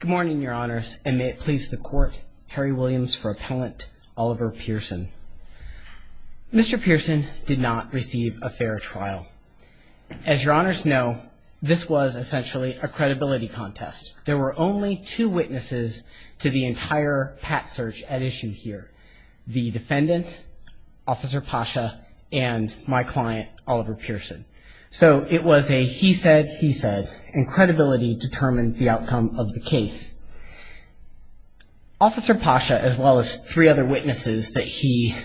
Good morning, your honors, and may it please the court, Harry Williams for appellant Oliver Pearson. Mr. Pearson did not receive a fair trial. As your honors know, this was essentially a credibility contest. There were only two witnesses to the entire PAT search at issue here. The defendant, Officer Pasha, and my client Oliver Pearson. So it was a he said, he said, and credibility determined the outcome of the case. Officer Pasha, as well as three other witnesses that he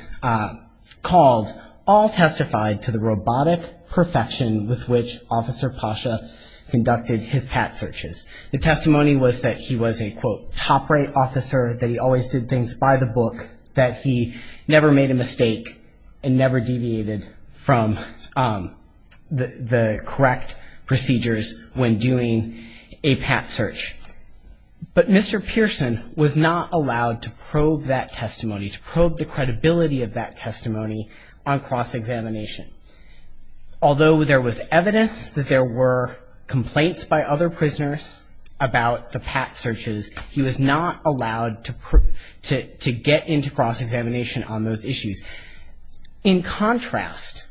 called, all testified to the robotic perfection with which Officer Pasha conducted his PAT searches. The testimony was that he was a quote, top-rate officer, that he always did things by the book, that he never made a mistake and never deviated from the correct procedures when doing a PAT search. But Mr. Pearson was not allowed to probe that testimony, to probe the credibility of that testimony on cross-examination. Although there was evidence that there were complaints by other prisoners about the PAT searches, he was not allowed to get into cross-examination on those issues. In contrast,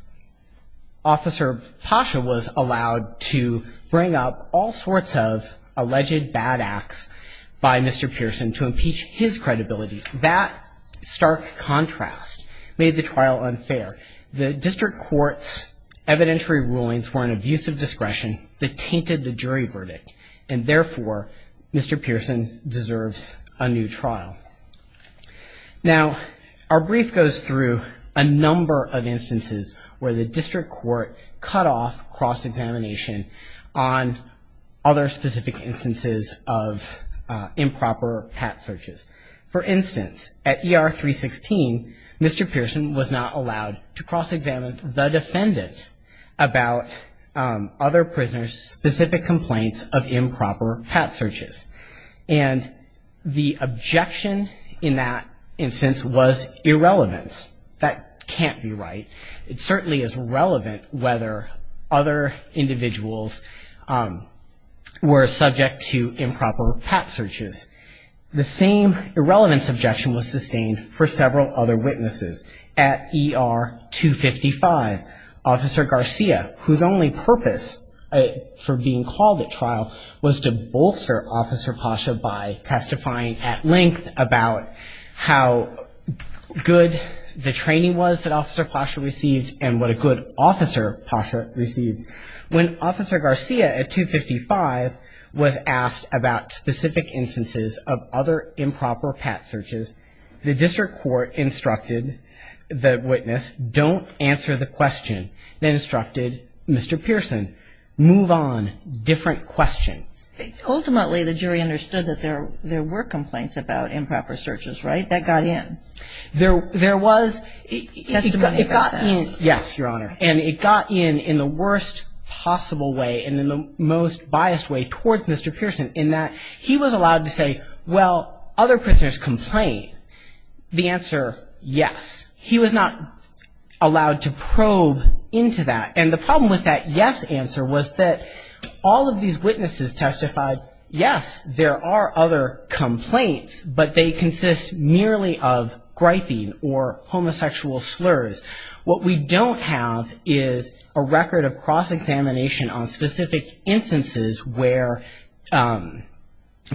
Officer Pasha was allowed to bring up all sorts of alleged bad acts by Mr. Pearson to impeach his credibility. That stark contrast made the trial unfair. The district court's evidentiary rulings were an abuse of discretion that tainted the jury verdict and therefore Mr. Pearson deserves a new trial. Now, our brief goes through a number of instances where the district court cut off cross-examination on other specific instances of improper PAT searches. For instance, at ER 316, Mr. Pearson was not allowed to cross-examine the defendant about other prisoners' specific complaints of improper PAT searches. And the objection in that instance was irrelevance. That can't be right. It certainly is relevant whether other individuals were subject to improper PAT searches. The same irrelevance objection was sustained for several other witnesses. At ER 255, Officer Garcia, whose only purpose for being called at trial was to bolster Officer Pasha by testifying at length about how good the training was that Officer Pasha received and what a good officer Pasha received. When Officer Garcia at 255 was asked about specific instances of other improper PAT searches, the district court instructed the witness, don't answer the question. They instructed Mr. Pearson, move on, different question. Ultimately, the jury understood that there were complaints about improper searches, right? That got in. There was. Testimony about that. Yes, Your Honor. And it got in in the worst possible way and in the most biased way towards Mr. Pearson in that he was allowed to say, well, other prisoners complain. The answer, yes. He was not allowed to probe into that. And the problem with that yes answer was that all of these witnesses testified, yes, there are other complaints, but they consist merely of griping or homosexual slurs. What we don't have is a record of cross-examination on specific instances where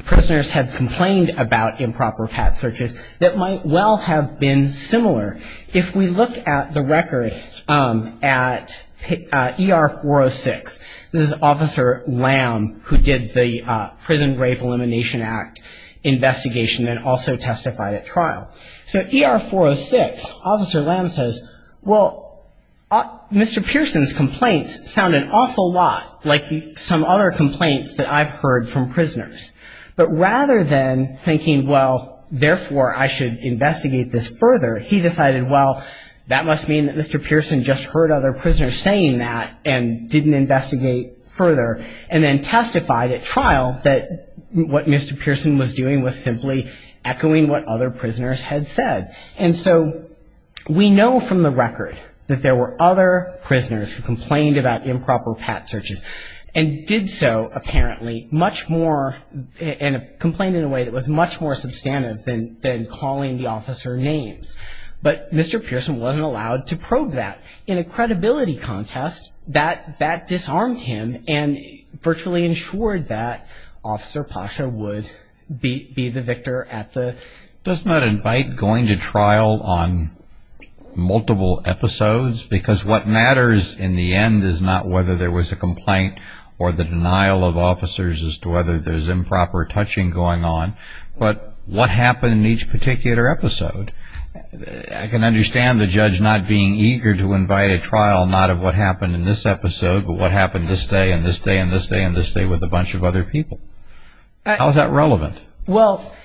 prisoners have complained about improper PAT searches that might well have been similar. If we look at the record at ER 406, this is Officer Lamb who did the Prison Rape Elimination Act investigation and also testified at trial. So ER 406, Officer Lamb says, well, Mr. Pearson's complaints sound an awful lot like the some other complaints that I've heard from prisoners. But rather than thinking, well, therefore, I should investigate this further, he decided, well, that must mean that Mr. Pearson just heard other prisoners saying that and didn't investigate further and then testified at trial that what Mr. Pearson was doing was simply echoing what other prisoners had said. And so we know from the record that there were other prisoners who complained about improper PAT searches and did so, apparently, much more, and complained in a way that was much more substantive than calling the officer names. But Mr. Pearson wasn't allowed to probe that. In a credibility contest, that disarmed him and virtually ensured that Officer Pasha would be the victor at the... Does that invite going to trial on multiple episodes? Because what matters in the end is not whether there was a complaint or the denial of officers as to whether there's improper touching going on, but what happened in each particular episode. I can understand the judge not being eager to invite a trial, not of what happened in this episode, but what happened this day and this day and this day and this day with a bunch of other people. How is that relevant? Well,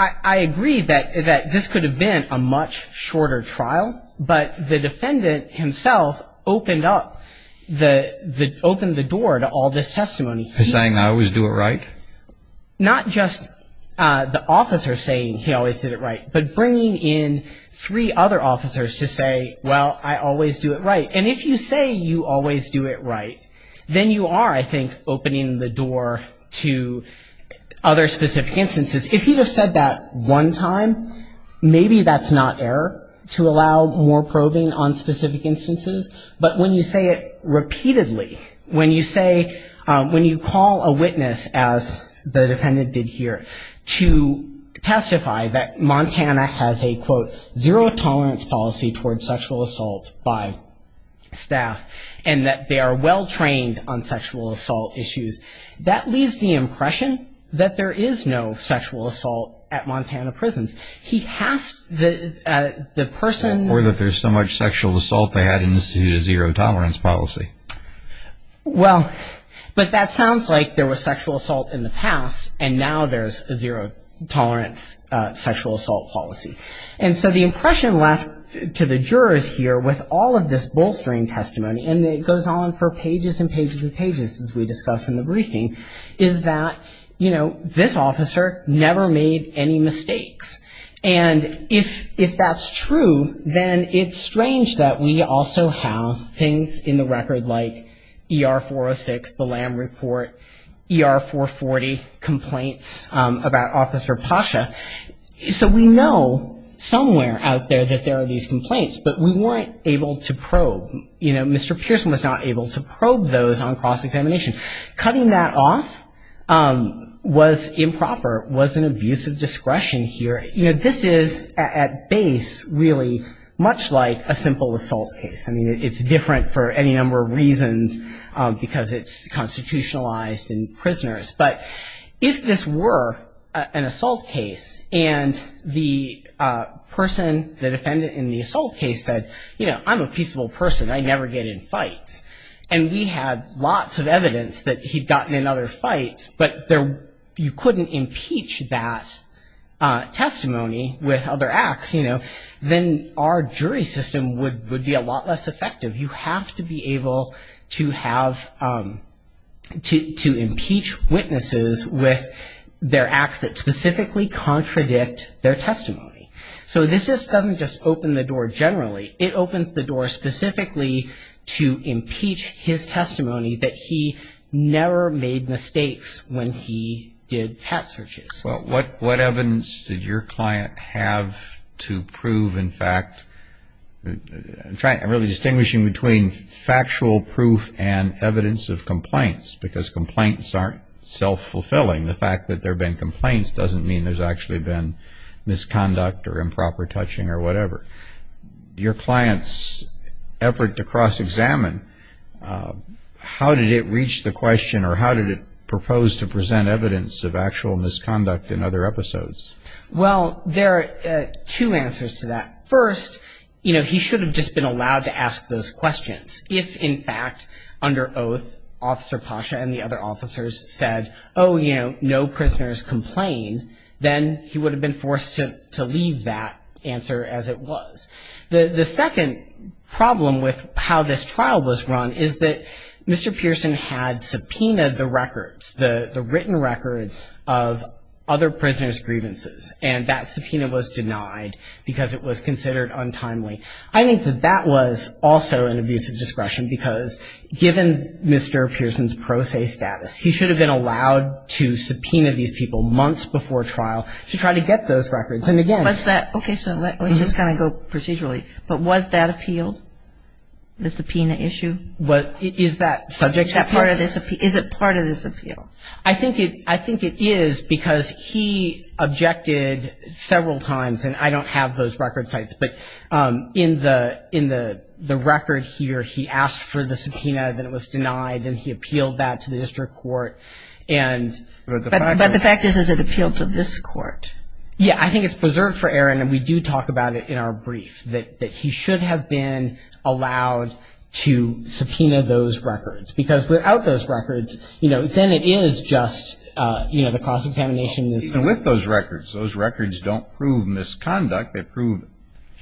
I agree that this could have been a much shorter trial, but the defendant himself opened up the...opened the door to all this testimony. He's saying, I always do it right? Not just the officer saying he always did it right, but bringing in three other officers to say, well, I always do it right. And if you say you always do it right, then you are, I think, opening the door to other specific instances. If he'd have said that one time, maybe that's not error to allow more probing on specific instances, but when you say it repeatedly, when you say, when you call a witness, as the defendant did here, to testify that Montana has a, quote, zero-tolerance policy towards sexual assault by staff and that they are well trained on sexual assault issues, that leaves the impression that there is no sexual assault at Montana prisons. He has to...the person... Well, but that sounds like there was sexual assault in the past, and now there's a zero-tolerance sexual assault policy. And so the impression left to the jurors here with all of this bolstering testimony, and it goes on for pages and pages and pages as we discuss in the briefing, is that, you know, this officer never made any mistakes. And if that's true, then it's strange that we also have things in the record like ER-406, the LAM report, ER-440 complaints about Officer Pasha. So we know somewhere out there that there are these complaints, but we weren't able to probe. You know, Mr. Pearson was not able to probe those on was an abuse of discretion here. You know, this is, at base, really much like a simple assault case. I mean, it's different for any number of reasons because it's constitutionalized in prisoners. But if this were an assault case and the person, the defendant in the assault case said, you know, I'm a peaceable person. I never get in fights. And we had lots of evidence that he'd gotten in other fights, but you couldn't impeach that testimony with other acts, you know. Then our jury system would be a lot less effective. You have to be able to have, to impeach witnesses with their acts that specifically contradict their testimony. So this just doesn't just open the door generally. It opens the door specifically to impeach his testimony that he never made mistakes when he did cat searches. Well, what evidence did your client have to prove, in fact, really distinguishing between factual proof and evidence of complaints? Because complaints aren't self-fulfilling. The fact that there have been complaints doesn't mean there's actually been misconduct or improper touching or whatever. Your client's effort to cross-examine, how did it reach the question or how did it propose to present evidence of actual misconduct in other episodes? Well, there are two answers to that. First, you know, he should have just been allowed to ask those questions. If, in fact, under oath, Officer Pasha and the he would have been forced to leave that answer as it was. The second problem with how this trial was run is that Mr. Pearson had subpoenaed the records, the written records of other prisoners' grievances, and that subpoena was denied because it was considered untimely. I think that that was also an abuse of discretion because given Mr. Pearson's pro se status, he should have been allowed to subpoena these people months before trial to try to get those records. And, again... Was that, okay, so let's just kind of go procedurally, but was that appealed, the subpoena issue? What, is that subject to appeal? Is it part of this appeal? I think it is because he objected several times, and I don't have those record sites, but in the record here, he asked for the subpoena, then it was denied, and he appealed that to the district court, and... But the fact is, is it appealed to this court? Yeah, I think it's preserved for error, and we do talk about it in our brief, that he should have been allowed to subpoena those records because without those records, you know, then it is just, you know, the cross-examination is... Even with those records, those records don't prove misconduct, they prove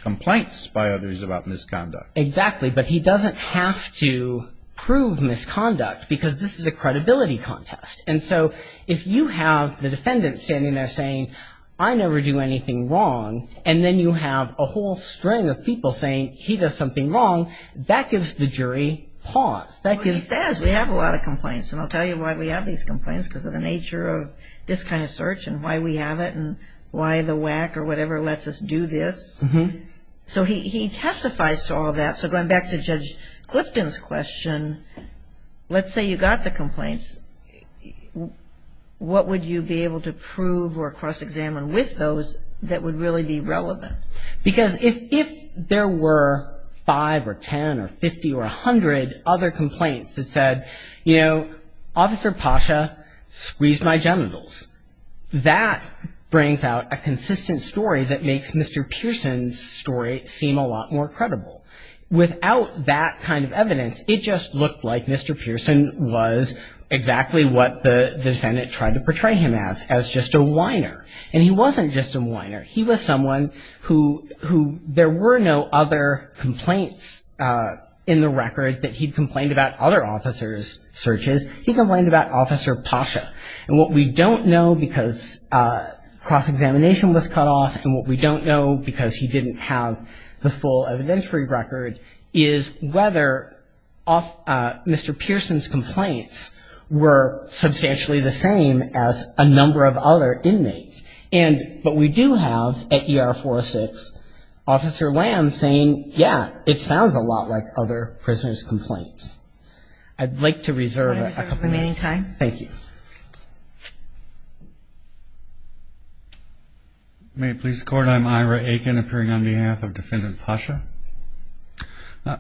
complaints by others about misconduct. Exactly, but he doesn't have to prove misconduct because this is a credibility contest, and so if you have the defendant standing there saying, I never do anything wrong, and then you have a whole string of people saying, he does something wrong, that gives the jury pause. That gives... He says, we have a lot of complaints, and I'll tell you why we have these complaints, because of the nature of this kind of search, and why we have it, and why the WAC, or whatever, lets us do this. So he testifies to all that, so going back to Judge Clifton's question, let's say you got the complaints, what would you be able to prove or cross-examine with those that would really be relevant? Because if there were five, or ten, or fifty, or a hundred other complaints that said, you know, Officer Pasha squeezed my genitals, that brings out a lot more credibility, and makes Judge Clifton's story seem a lot more credible. Without that kind of evidence, it just looked like Mr. Pearson was exactly what the defendant tried to portray him as, as just a whiner. And he wasn't just a whiner, he was someone who, who, there were no other complaints in the record that he'd complained about other officers' searches. He complained about Officer Pasha. And what we don't know, because cross-examination was cut off, and what we don't know, because he didn't have the full evidentiary record, is whether Mr. Pearson's complaints were substantially the same as a number of other inmates. And, but we do have, at ER 406, Officer Lamb saying, yeah, it sounds a lot like other prisoners' complaints. I'd like to reserve a couple minutes. I reserve the remaining time. Thank you. May it please the Court, I'm Ira Aiken, appearing on behalf of Defendant Pasha.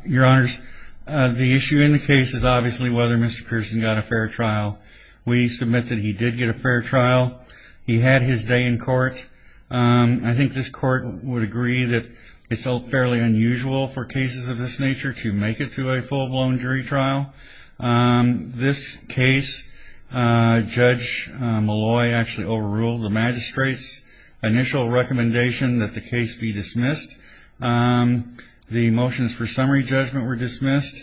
Your Honors, the issue in the case is obviously whether Mr. Pearson got a fair trial. We submit that he did get a fair trial. He had his day in court. I think this court would agree that it's all fairly unusual for cases of this nature to make it to a full-blown jury trial. This case, Judge Malloy actually overruled the magistrate's initial recommendation that the case be dismissed. The motions for summary judgment were dismissed.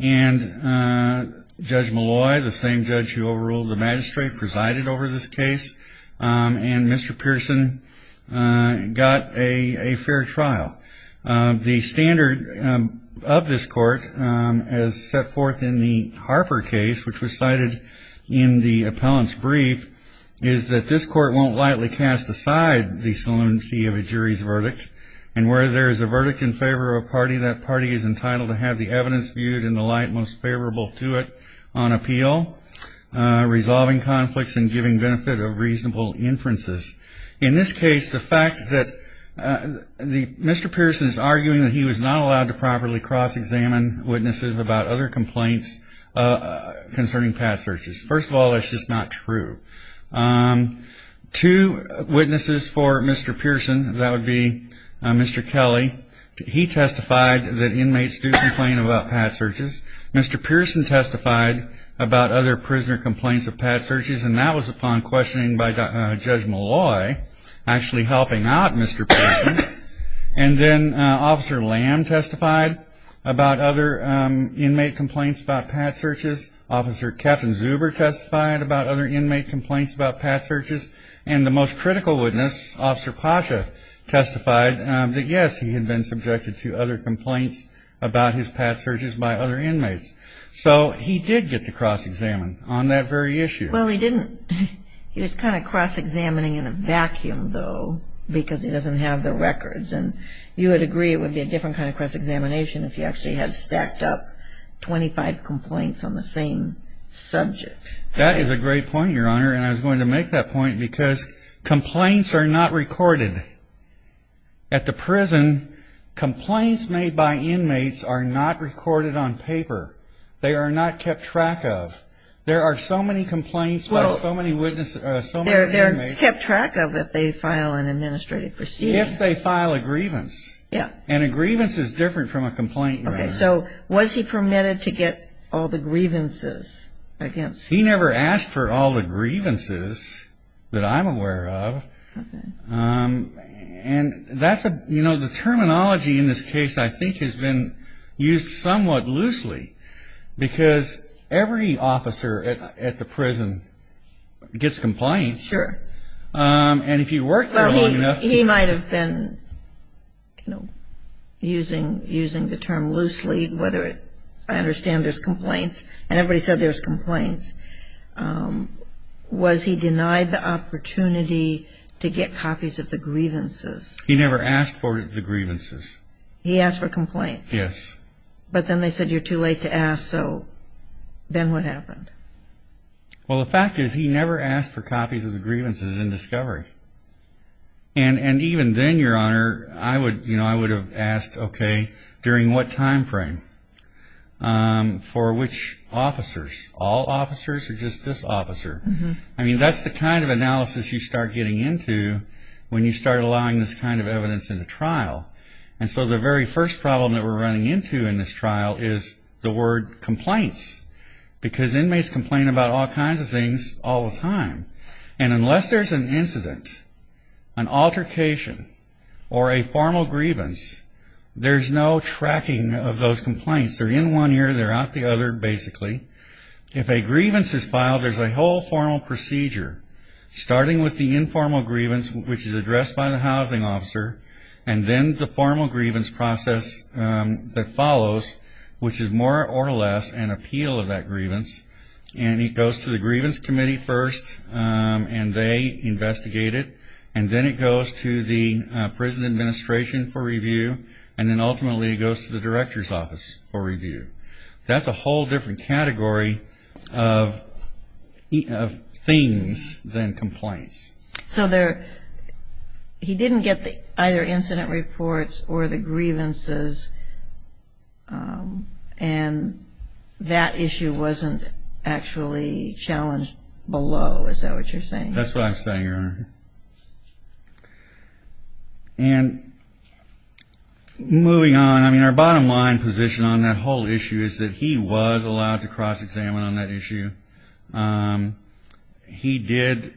And Judge Malloy, the same judge who overruled the magistrate, presided over this case. And Mr. Pearson got a fair trial. The standard of this court, as set forth in the Harper case, which was cited in the appellant's brief, is that this court won't lightly cast aside the solemnity of a jury's verdict. And where there is a verdict in favor of a party, that party is entitled to have the evidence viewed in the light most favorable to it on appeal, resolving conflicts, and giving benefit of reasonable inferences. In this case, the fact that Mr. Pearson is arguing that he was not allowed to properly cross-examine witnesses about other complaints concerning pad searches. First of all, that's just not true. Two witnesses for Mr. Pearson, that would be Mr. Kelly, he testified that inmates do complain about pad searches. Mr. Pearson testified about other prisoner complaints of pad searches. And that was upon questioning by Judge Malloy, actually helping out Mr. Pearson. And then Officer Lamb testified about other inmate complaints about pad searches. Officer Captain Zuber testified about other inmate complaints about pad searches. And the most critical witness, Officer Pasha, testified that, yes, he had been subjected to other complaints about his pad searches by other inmates. So he did get to cross-examine on that very issue. Well, he didn't. He was kind of cross-examining in a vacuum, though, because he doesn't have the records. And you would agree it would be a different kind of cross-examination if he actually had stacked up 25 complaints on the same subject. That is a great point, Your Honor, and I was going to make that point because complaints are not recorded. At the prison, complaints made by inmates are not recorded on paper. They are not kept track of. There are so many complaints by so many inmates. They're kept track of if they file an administrative proceeding. If they file a grievance. Yeah. And a grievance is different from a complaint, Your Honor. Okay, so was he permitted to get all the grievances against him? He never asked for all the grievances that I'm aware of. And that's a, you know, the terminology in this case, I think, has been used somewhat loosely because every officer at the prison gets complaints. Sure. And if you work there long enough. He might have been, you know, using the term loosely, whether I understand there's complaints. And everybody said there's complaints. Was he denied the opportunity to get copies of the grievances? He never asked for the grievances. He asked for complaints. Yes. But then they said you're too late to ask. So then what happened? Well, the fact is he never asked for copies of the grievances in discovery. And even then, Your Honor, I would, you know, I would have asked, okay, during what time frame? For which officers? All officers or just this officer? I mean, that's the kind of analysis you start getting into when you start allowing this kind of evidence in a trial. And so the very first problem that we're running into in this trial is the word complaints. Because inmates complain about all kinds of things all the time. And unless there's an incident, an altercation, or a formal grievance, there's no tracking of those complaints. They're in one ear, they're out the other, basically. If a grievance is filed, there's a whole formal procedure, starting with the informal grievance, which is addressed by the housing officer, and then the formal grievance process that follows, which is more or less an appeal of that grievance. And it goes to the grievance committee first, and they investigate it. And then it goes to the prison administration for review. And then ultimately it goes to the director's office for review. That's a whole different category of things than complaints. So he didn't get either incident reports or the grievances, and that issue wasn't actually challenged below, is that what you're saying? That's what I'm saying, Your Honor. And moving on, I mean, our bottom line position on that whole issue is that he was allowed to cross-examine on that issue. He did,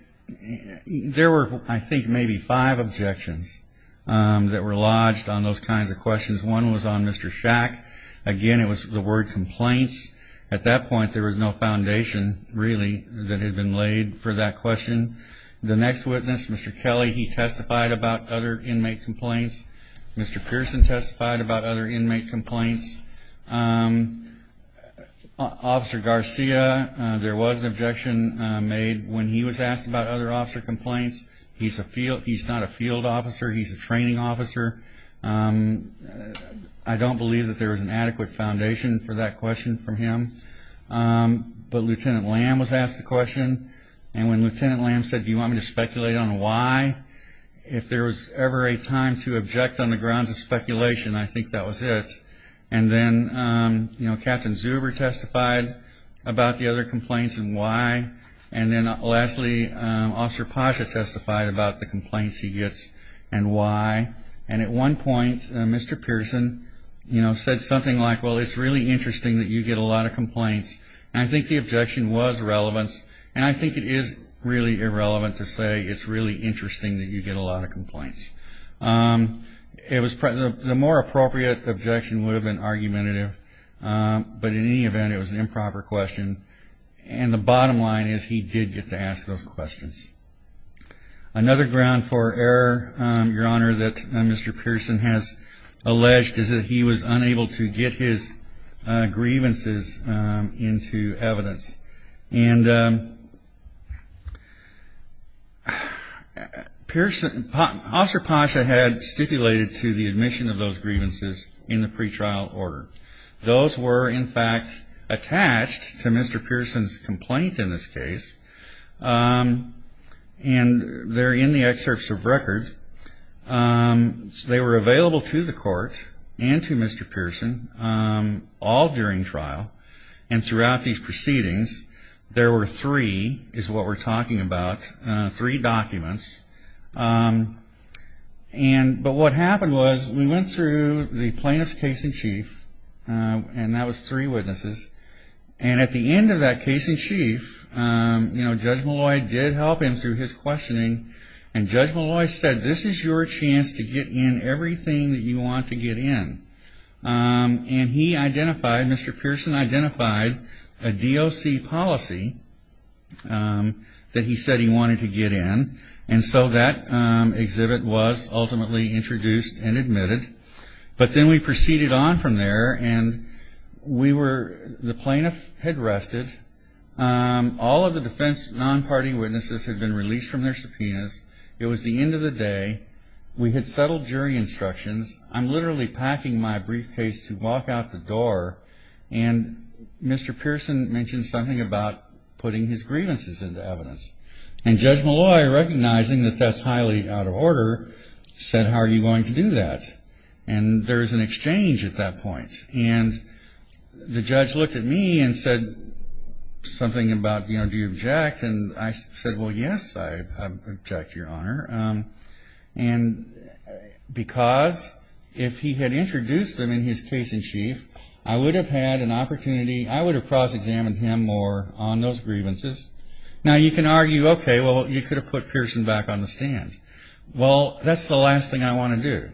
there were, I think, maybe five objections that were lodged on those kinds of questions. One was on Mr. Shack. Again, it was the word complaints. At that point, there was no foundation, really, that had been laid for that question. The next witness, Mr. Kelly, he testified about other inmate complaints. Mr. Pearson testified about other inmate complaints. Officer Garcia, there was an objection made when he was asked about other officer complaints. He's not a field officer, he's a training officer. I don't believe that there was an adequate foundation for that question from him. But Lieutenant Lamb was asked the question, and when Lieutenant Lamb said, do you want me to speculate on why, if there was ever a time to object on the grounds of speculation, I think that was it. And then, you know, Captain Zuber testified about the other complaints and why. And then, lastly, Officer Pasha testified about the complaints he gets and why. And at one point, Mr. Pearson, you know, said something like, well, it's really interesting that you get a lot of complaints. And I think the objection was relevant. And I think it is really irrelevant to say it's really interesting that you get a lot of complaints. The more appropriate objection would have been argumentative, but in any event, it was an improper question. And the bottom line is he did get to ask those questions. Another ground for error, Your Honor, that Mr. Pearson has alleged is that he was unable to get his grievances into evidence. And Officer Pasha had stipulated to the admission of those grievances in the pretrial order. Those were, in fact, attached to Mr. Pearson's complaint in this case. And they're in the excerpts of record. They were available to the court and to Mr. Pearson all during trial. And throughout these proceedings, there were three, is what we're talking about, three documents. And but what happened was we went through the plaintiff's case in chief, and that was three witnesses. And at the end of that case in chief, you know, Judge Malloy did help him through his questioning. And Judge Malloy said, this is your chance to get in everything that you want to get in. And he identified, Mr. Pearson identified a DOC policy that he said he wanted to get in. And so that exhibit was ultimately introduced and admitted. But then we proceeded on from there, and we were, the plaintiff had rested. All of the defense non-party witnesses had been released from their subpoenas. It was the end of the day. We had settled jury instructions. I'm literally packing my briefcase to walk out the door. And Mr. Pearson mentioned something about putting his grievances into evidence. And Judge Malloy, recognizing that that's highly out of order, said, how are you going to do that? And there was an exchange at that point. And the judge looked at me and said something about, you know, do you object? And I said, well, yes, I object, Your Honor. And because if he had introduced them in his case in chief, I would have had an opportunity, I would have cross-examined him more on those grievances. Now, you can argue, okay, well, you could have put Pearson back on the stand. Well, that's the last thing I want to do,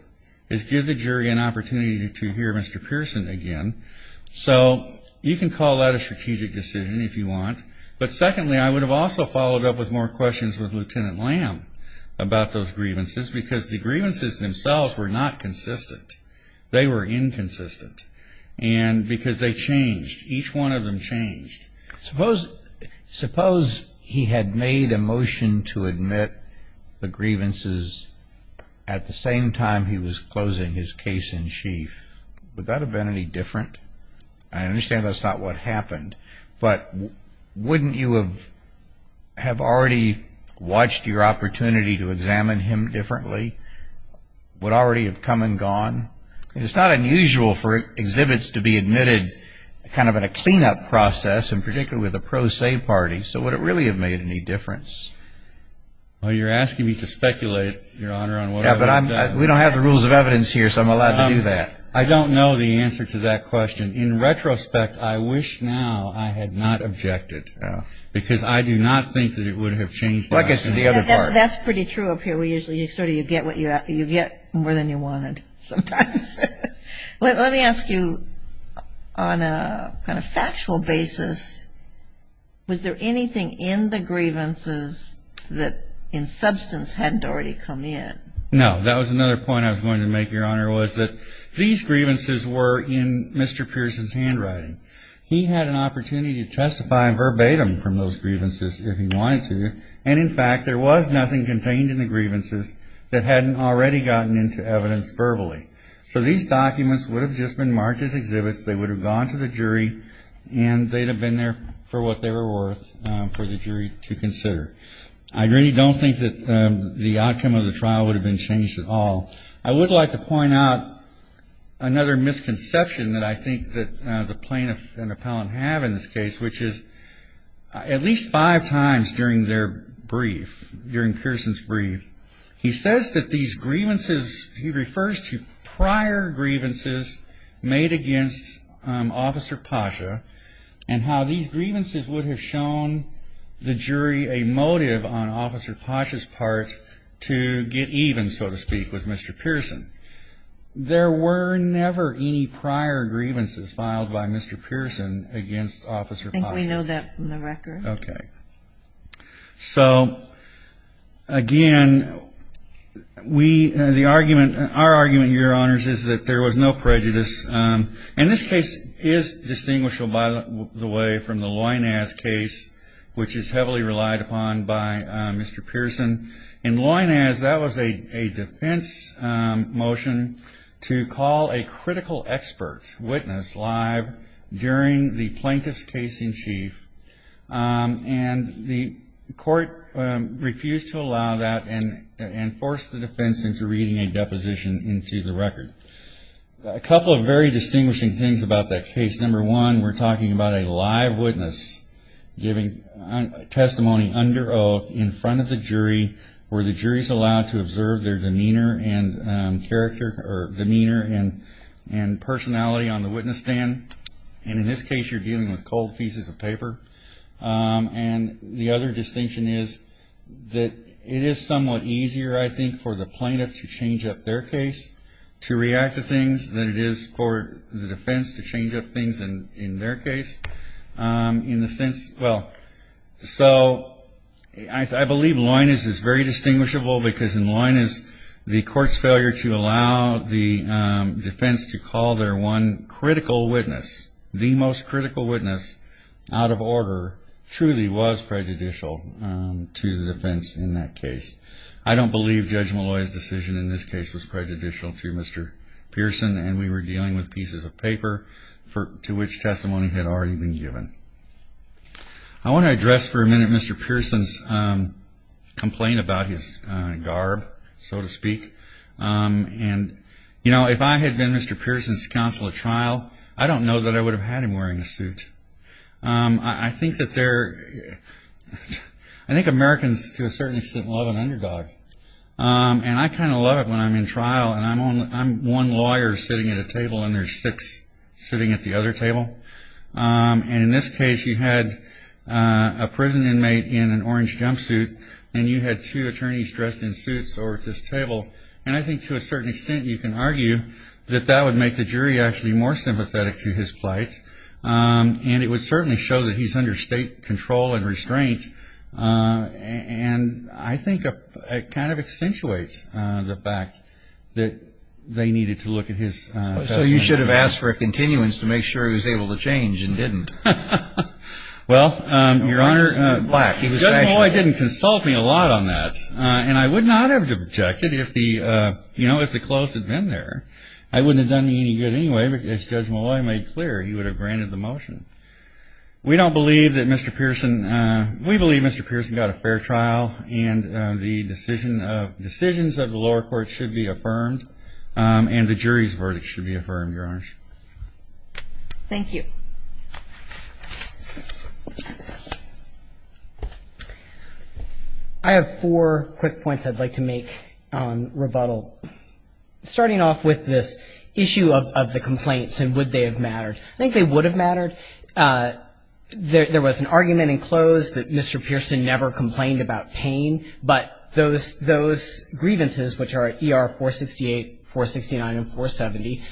is give the jury an opportunity to hear Mr. Pearson again. So you can call that a strategic decision if you want. But secondly, I would have also followed up with more questions with Lieutenant Lamb. About those grievances. Because the grievances themselves were not consistent. They were inconsistent. And because they changed. Each one of them changed. Suppose he had made a motion to admit the grievances at the same time he was closing his case in chief. Would that have been any different? I understand that's not what happened. But wouldn't you have already watched your opportunity to examine him differently? Would it already have come and gone? It's not unusual for exhibits to be admitted kind of in a cleanup process, and particularly with a pro se party. So would it really have made any difference? Well, you're asking me to speculate, Your Honor, on what I would have done. We don't have the rules of evidence here, so I'm allowed to do that. I don't know the answer to that question. In retrospect, I wish now I had not objected. Because I do not think that it would have changed the question. That's pretty true up here. We usually sort of you get more than you wanted sometimes. Let me ask you on a kind of factual basis. Was there anything in the grievances that in substance hadn't already come in? The answer was that these grievances were in Mr. Pearson's handwriting. He had an opportunity to testify verbatim from those grievances if he wanted to. And in fact, there was nothing contained in the grievances that hadn't already gotten into evidence verbally. So these documents would have just been marked as exhibits. They would have gone to the jury, and they'd have been there for what they were worth for the jury to consider. I really don't think that the outcome of the trial would have been changed at all. I would like to point out another misconception that I think that the plaintiff and the appellant have in this case, which is at least five times during their brief, during Pearson's brief, he says that these grievances, he refers to prior grievances made against Officer Pacha, and how these grievances would have shown the jury a motive on Officer Pacha's part to get even, so to speak, with Mr. Pearson. There were never any prior grievances filed by Mr. Pearson against Officer Pacha. I think we know that from the record. Okay. So again, we, the argument, our argument, Your Honors, is that there was no prejudice. And this case is distinguishable by the way from the Loinaz case, which is heavily relied upon by Mr. Pearson. In Loinaz, that was a defense motion to call a critical expert witness live during the plaintiff's case in chief. And the court refused to allow that and forced the defense into reading a deposition into the record. A couple of very distinguishing things about that case. Number one, we're talking about a live witness giving testimony under oath in front of the jury, where the jury's allowed to observe their demeanor and character, or demeanor and personality on the witness stand. And in this case, you're dealing with cold pieces of paper. And the other distinction is that it is somewhat easier, I think, for the plaintiff to change up their case, to react to things, than it is for the defense to change up things in their case. In the sense, well, so I believe Loinaz is very distinguishable because in Loinaz, the court's failure to allow the defense to call their one critical witness, the most critical witness, out of order, truly was prejudicial to the defense in that case. I don't believe Judge Molloy's decision in this case was prejudicial to Mr. Pearson, and we were dealing with pieces of paper to which testimony had already been given. I want to address for a minute Mr. Pearson's complaint about his garb, so to speak. And, you know, if I had been Mr. Pearson's counsel at trial, I don't know that I would have had him wearing a suit. I think that there, I think Americans, to a certain extent, love an underdog. And I kind of love it when I'm in trial, and I'm one lawyer sitting at a table, and there's six sitting at the other table. And in this case, you had a prison inmate in an orange jumpsuit, and you had two attorneys dressed in suits over at this table. And I think to a certain extent, you can argue that that would make the jury actually more sympathetic to his plight. And it would certainly show that he's under state control and restraint. And I think it kind of accentuates the fact that they needed to look at his testimony. So you should have asked for a continuance to make sure he was able to change and didn't. Well, Your Honor, Judge Molloy didn't consult me a lot on that. And I would not have objected if the, you know, if the clothes had been there. I wouldn't have done me any good anyway, because Judge Molloy made clear he would have granted the motion. We don't believe that Mr. Pearson, we believe Mr. Pearson got a fair trial. And the decision of, decisions of the lower court should be affirmed. And the jury's verdict should be affirmed, Your Honor. Thank you. I have four quick points I'd like to make on rebuttal. Starting off with this issue of the complaints and would they have mattered, I think they would have mattered. There was an argument in close that Mr. Pearson never complained about pain. But those grievances, which are ER 468, 469, and 470,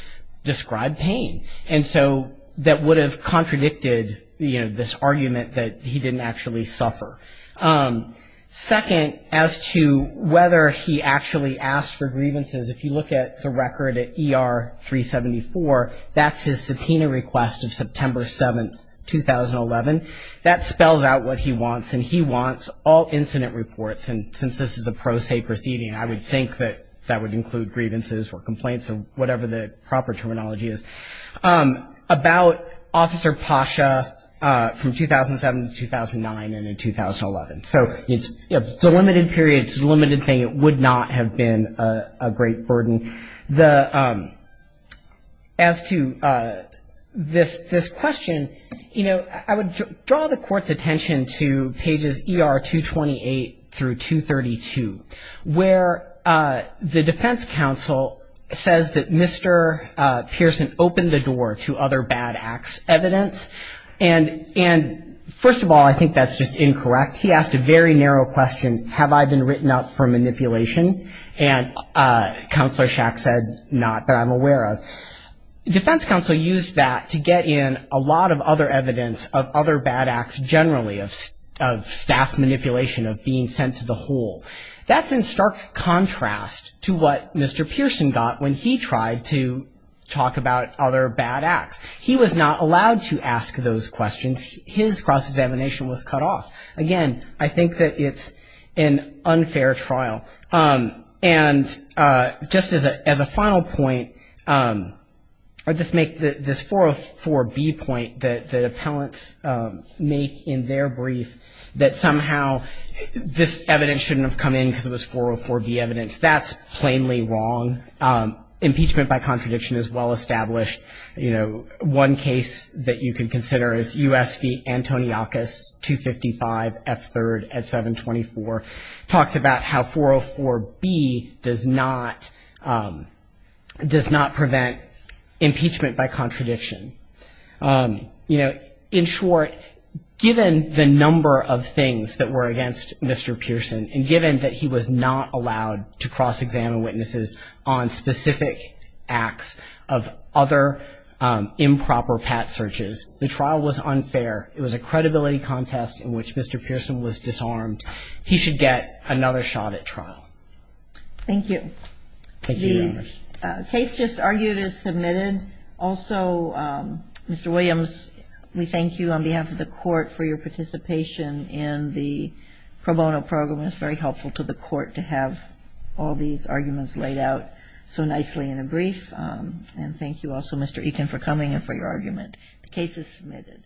describe pain. And so that would have contradicted, you know, this argument that he didn't actually suffer. Second, as to whether he actually asked for grievances, if you look at the record at ER 374, that's his subpoena request of September 7th, 2011. That spells out what he wants. And he wants all incident reports. And since this is a pro se proceeding, I would think that that would include grievances or complaints or whatever the proper terminology is. About Officer Pasha from 2007 to 2009 and in 2011. So it's a limited period, it's a limited thing. It would not have been a great burden. As to this question, you know, I would draw the court's attention to pages ER 228 through 232. Where the defense counsel says that Mr. Pearson opened the door to other bad acts evidence. And first of all, I think that's just incorrect. He asked a very narrow question, have I been written up for manipulation? And Counselor Shack said, not that I'm aware of. Defense counsel used that to get in a lot of other evidence of other bad acts generally, of staff manipulation, of being sent to the hole. That's in stark contrast to what Mr. Pearson got when he tried to talk about other bad acts. He was not allowed to ask those questions. His cross-examination was cut off. Again, I think that it's an unfair trial. And just as a final point, I'll just make this 404B point that appellants make in their brief that somehow this evidence shouldn't have come in because it was 404B evidence. That's plainly wrong. Impeachment by contradiction is well-established. You know, one case that you can consider is U.S. v. Antoniakis, 255 F3rd at 724. Talks about how 404B does not prevent impeachment by contradiction. You know, in short, given the number of things that were against Mr. Pearson, and given that he was not allowed to cross-examine witnesses on specific acts of other improper pat searches, the trial was unfair. It was a credibility contest in which Mr. Pearson was disarmed. He should get another shot at trial. Thank you. Thank you, Your Honors. The case just argued is submitted. Also, Mr. Williams, we thank you on behalf of the Court for your participation in the pro bono program. It's very helpful to the Court to have all these arguments laid out so nicely in a brief. And thank you also, Mr. Ekin, for coming and for your argument. The case is submitted.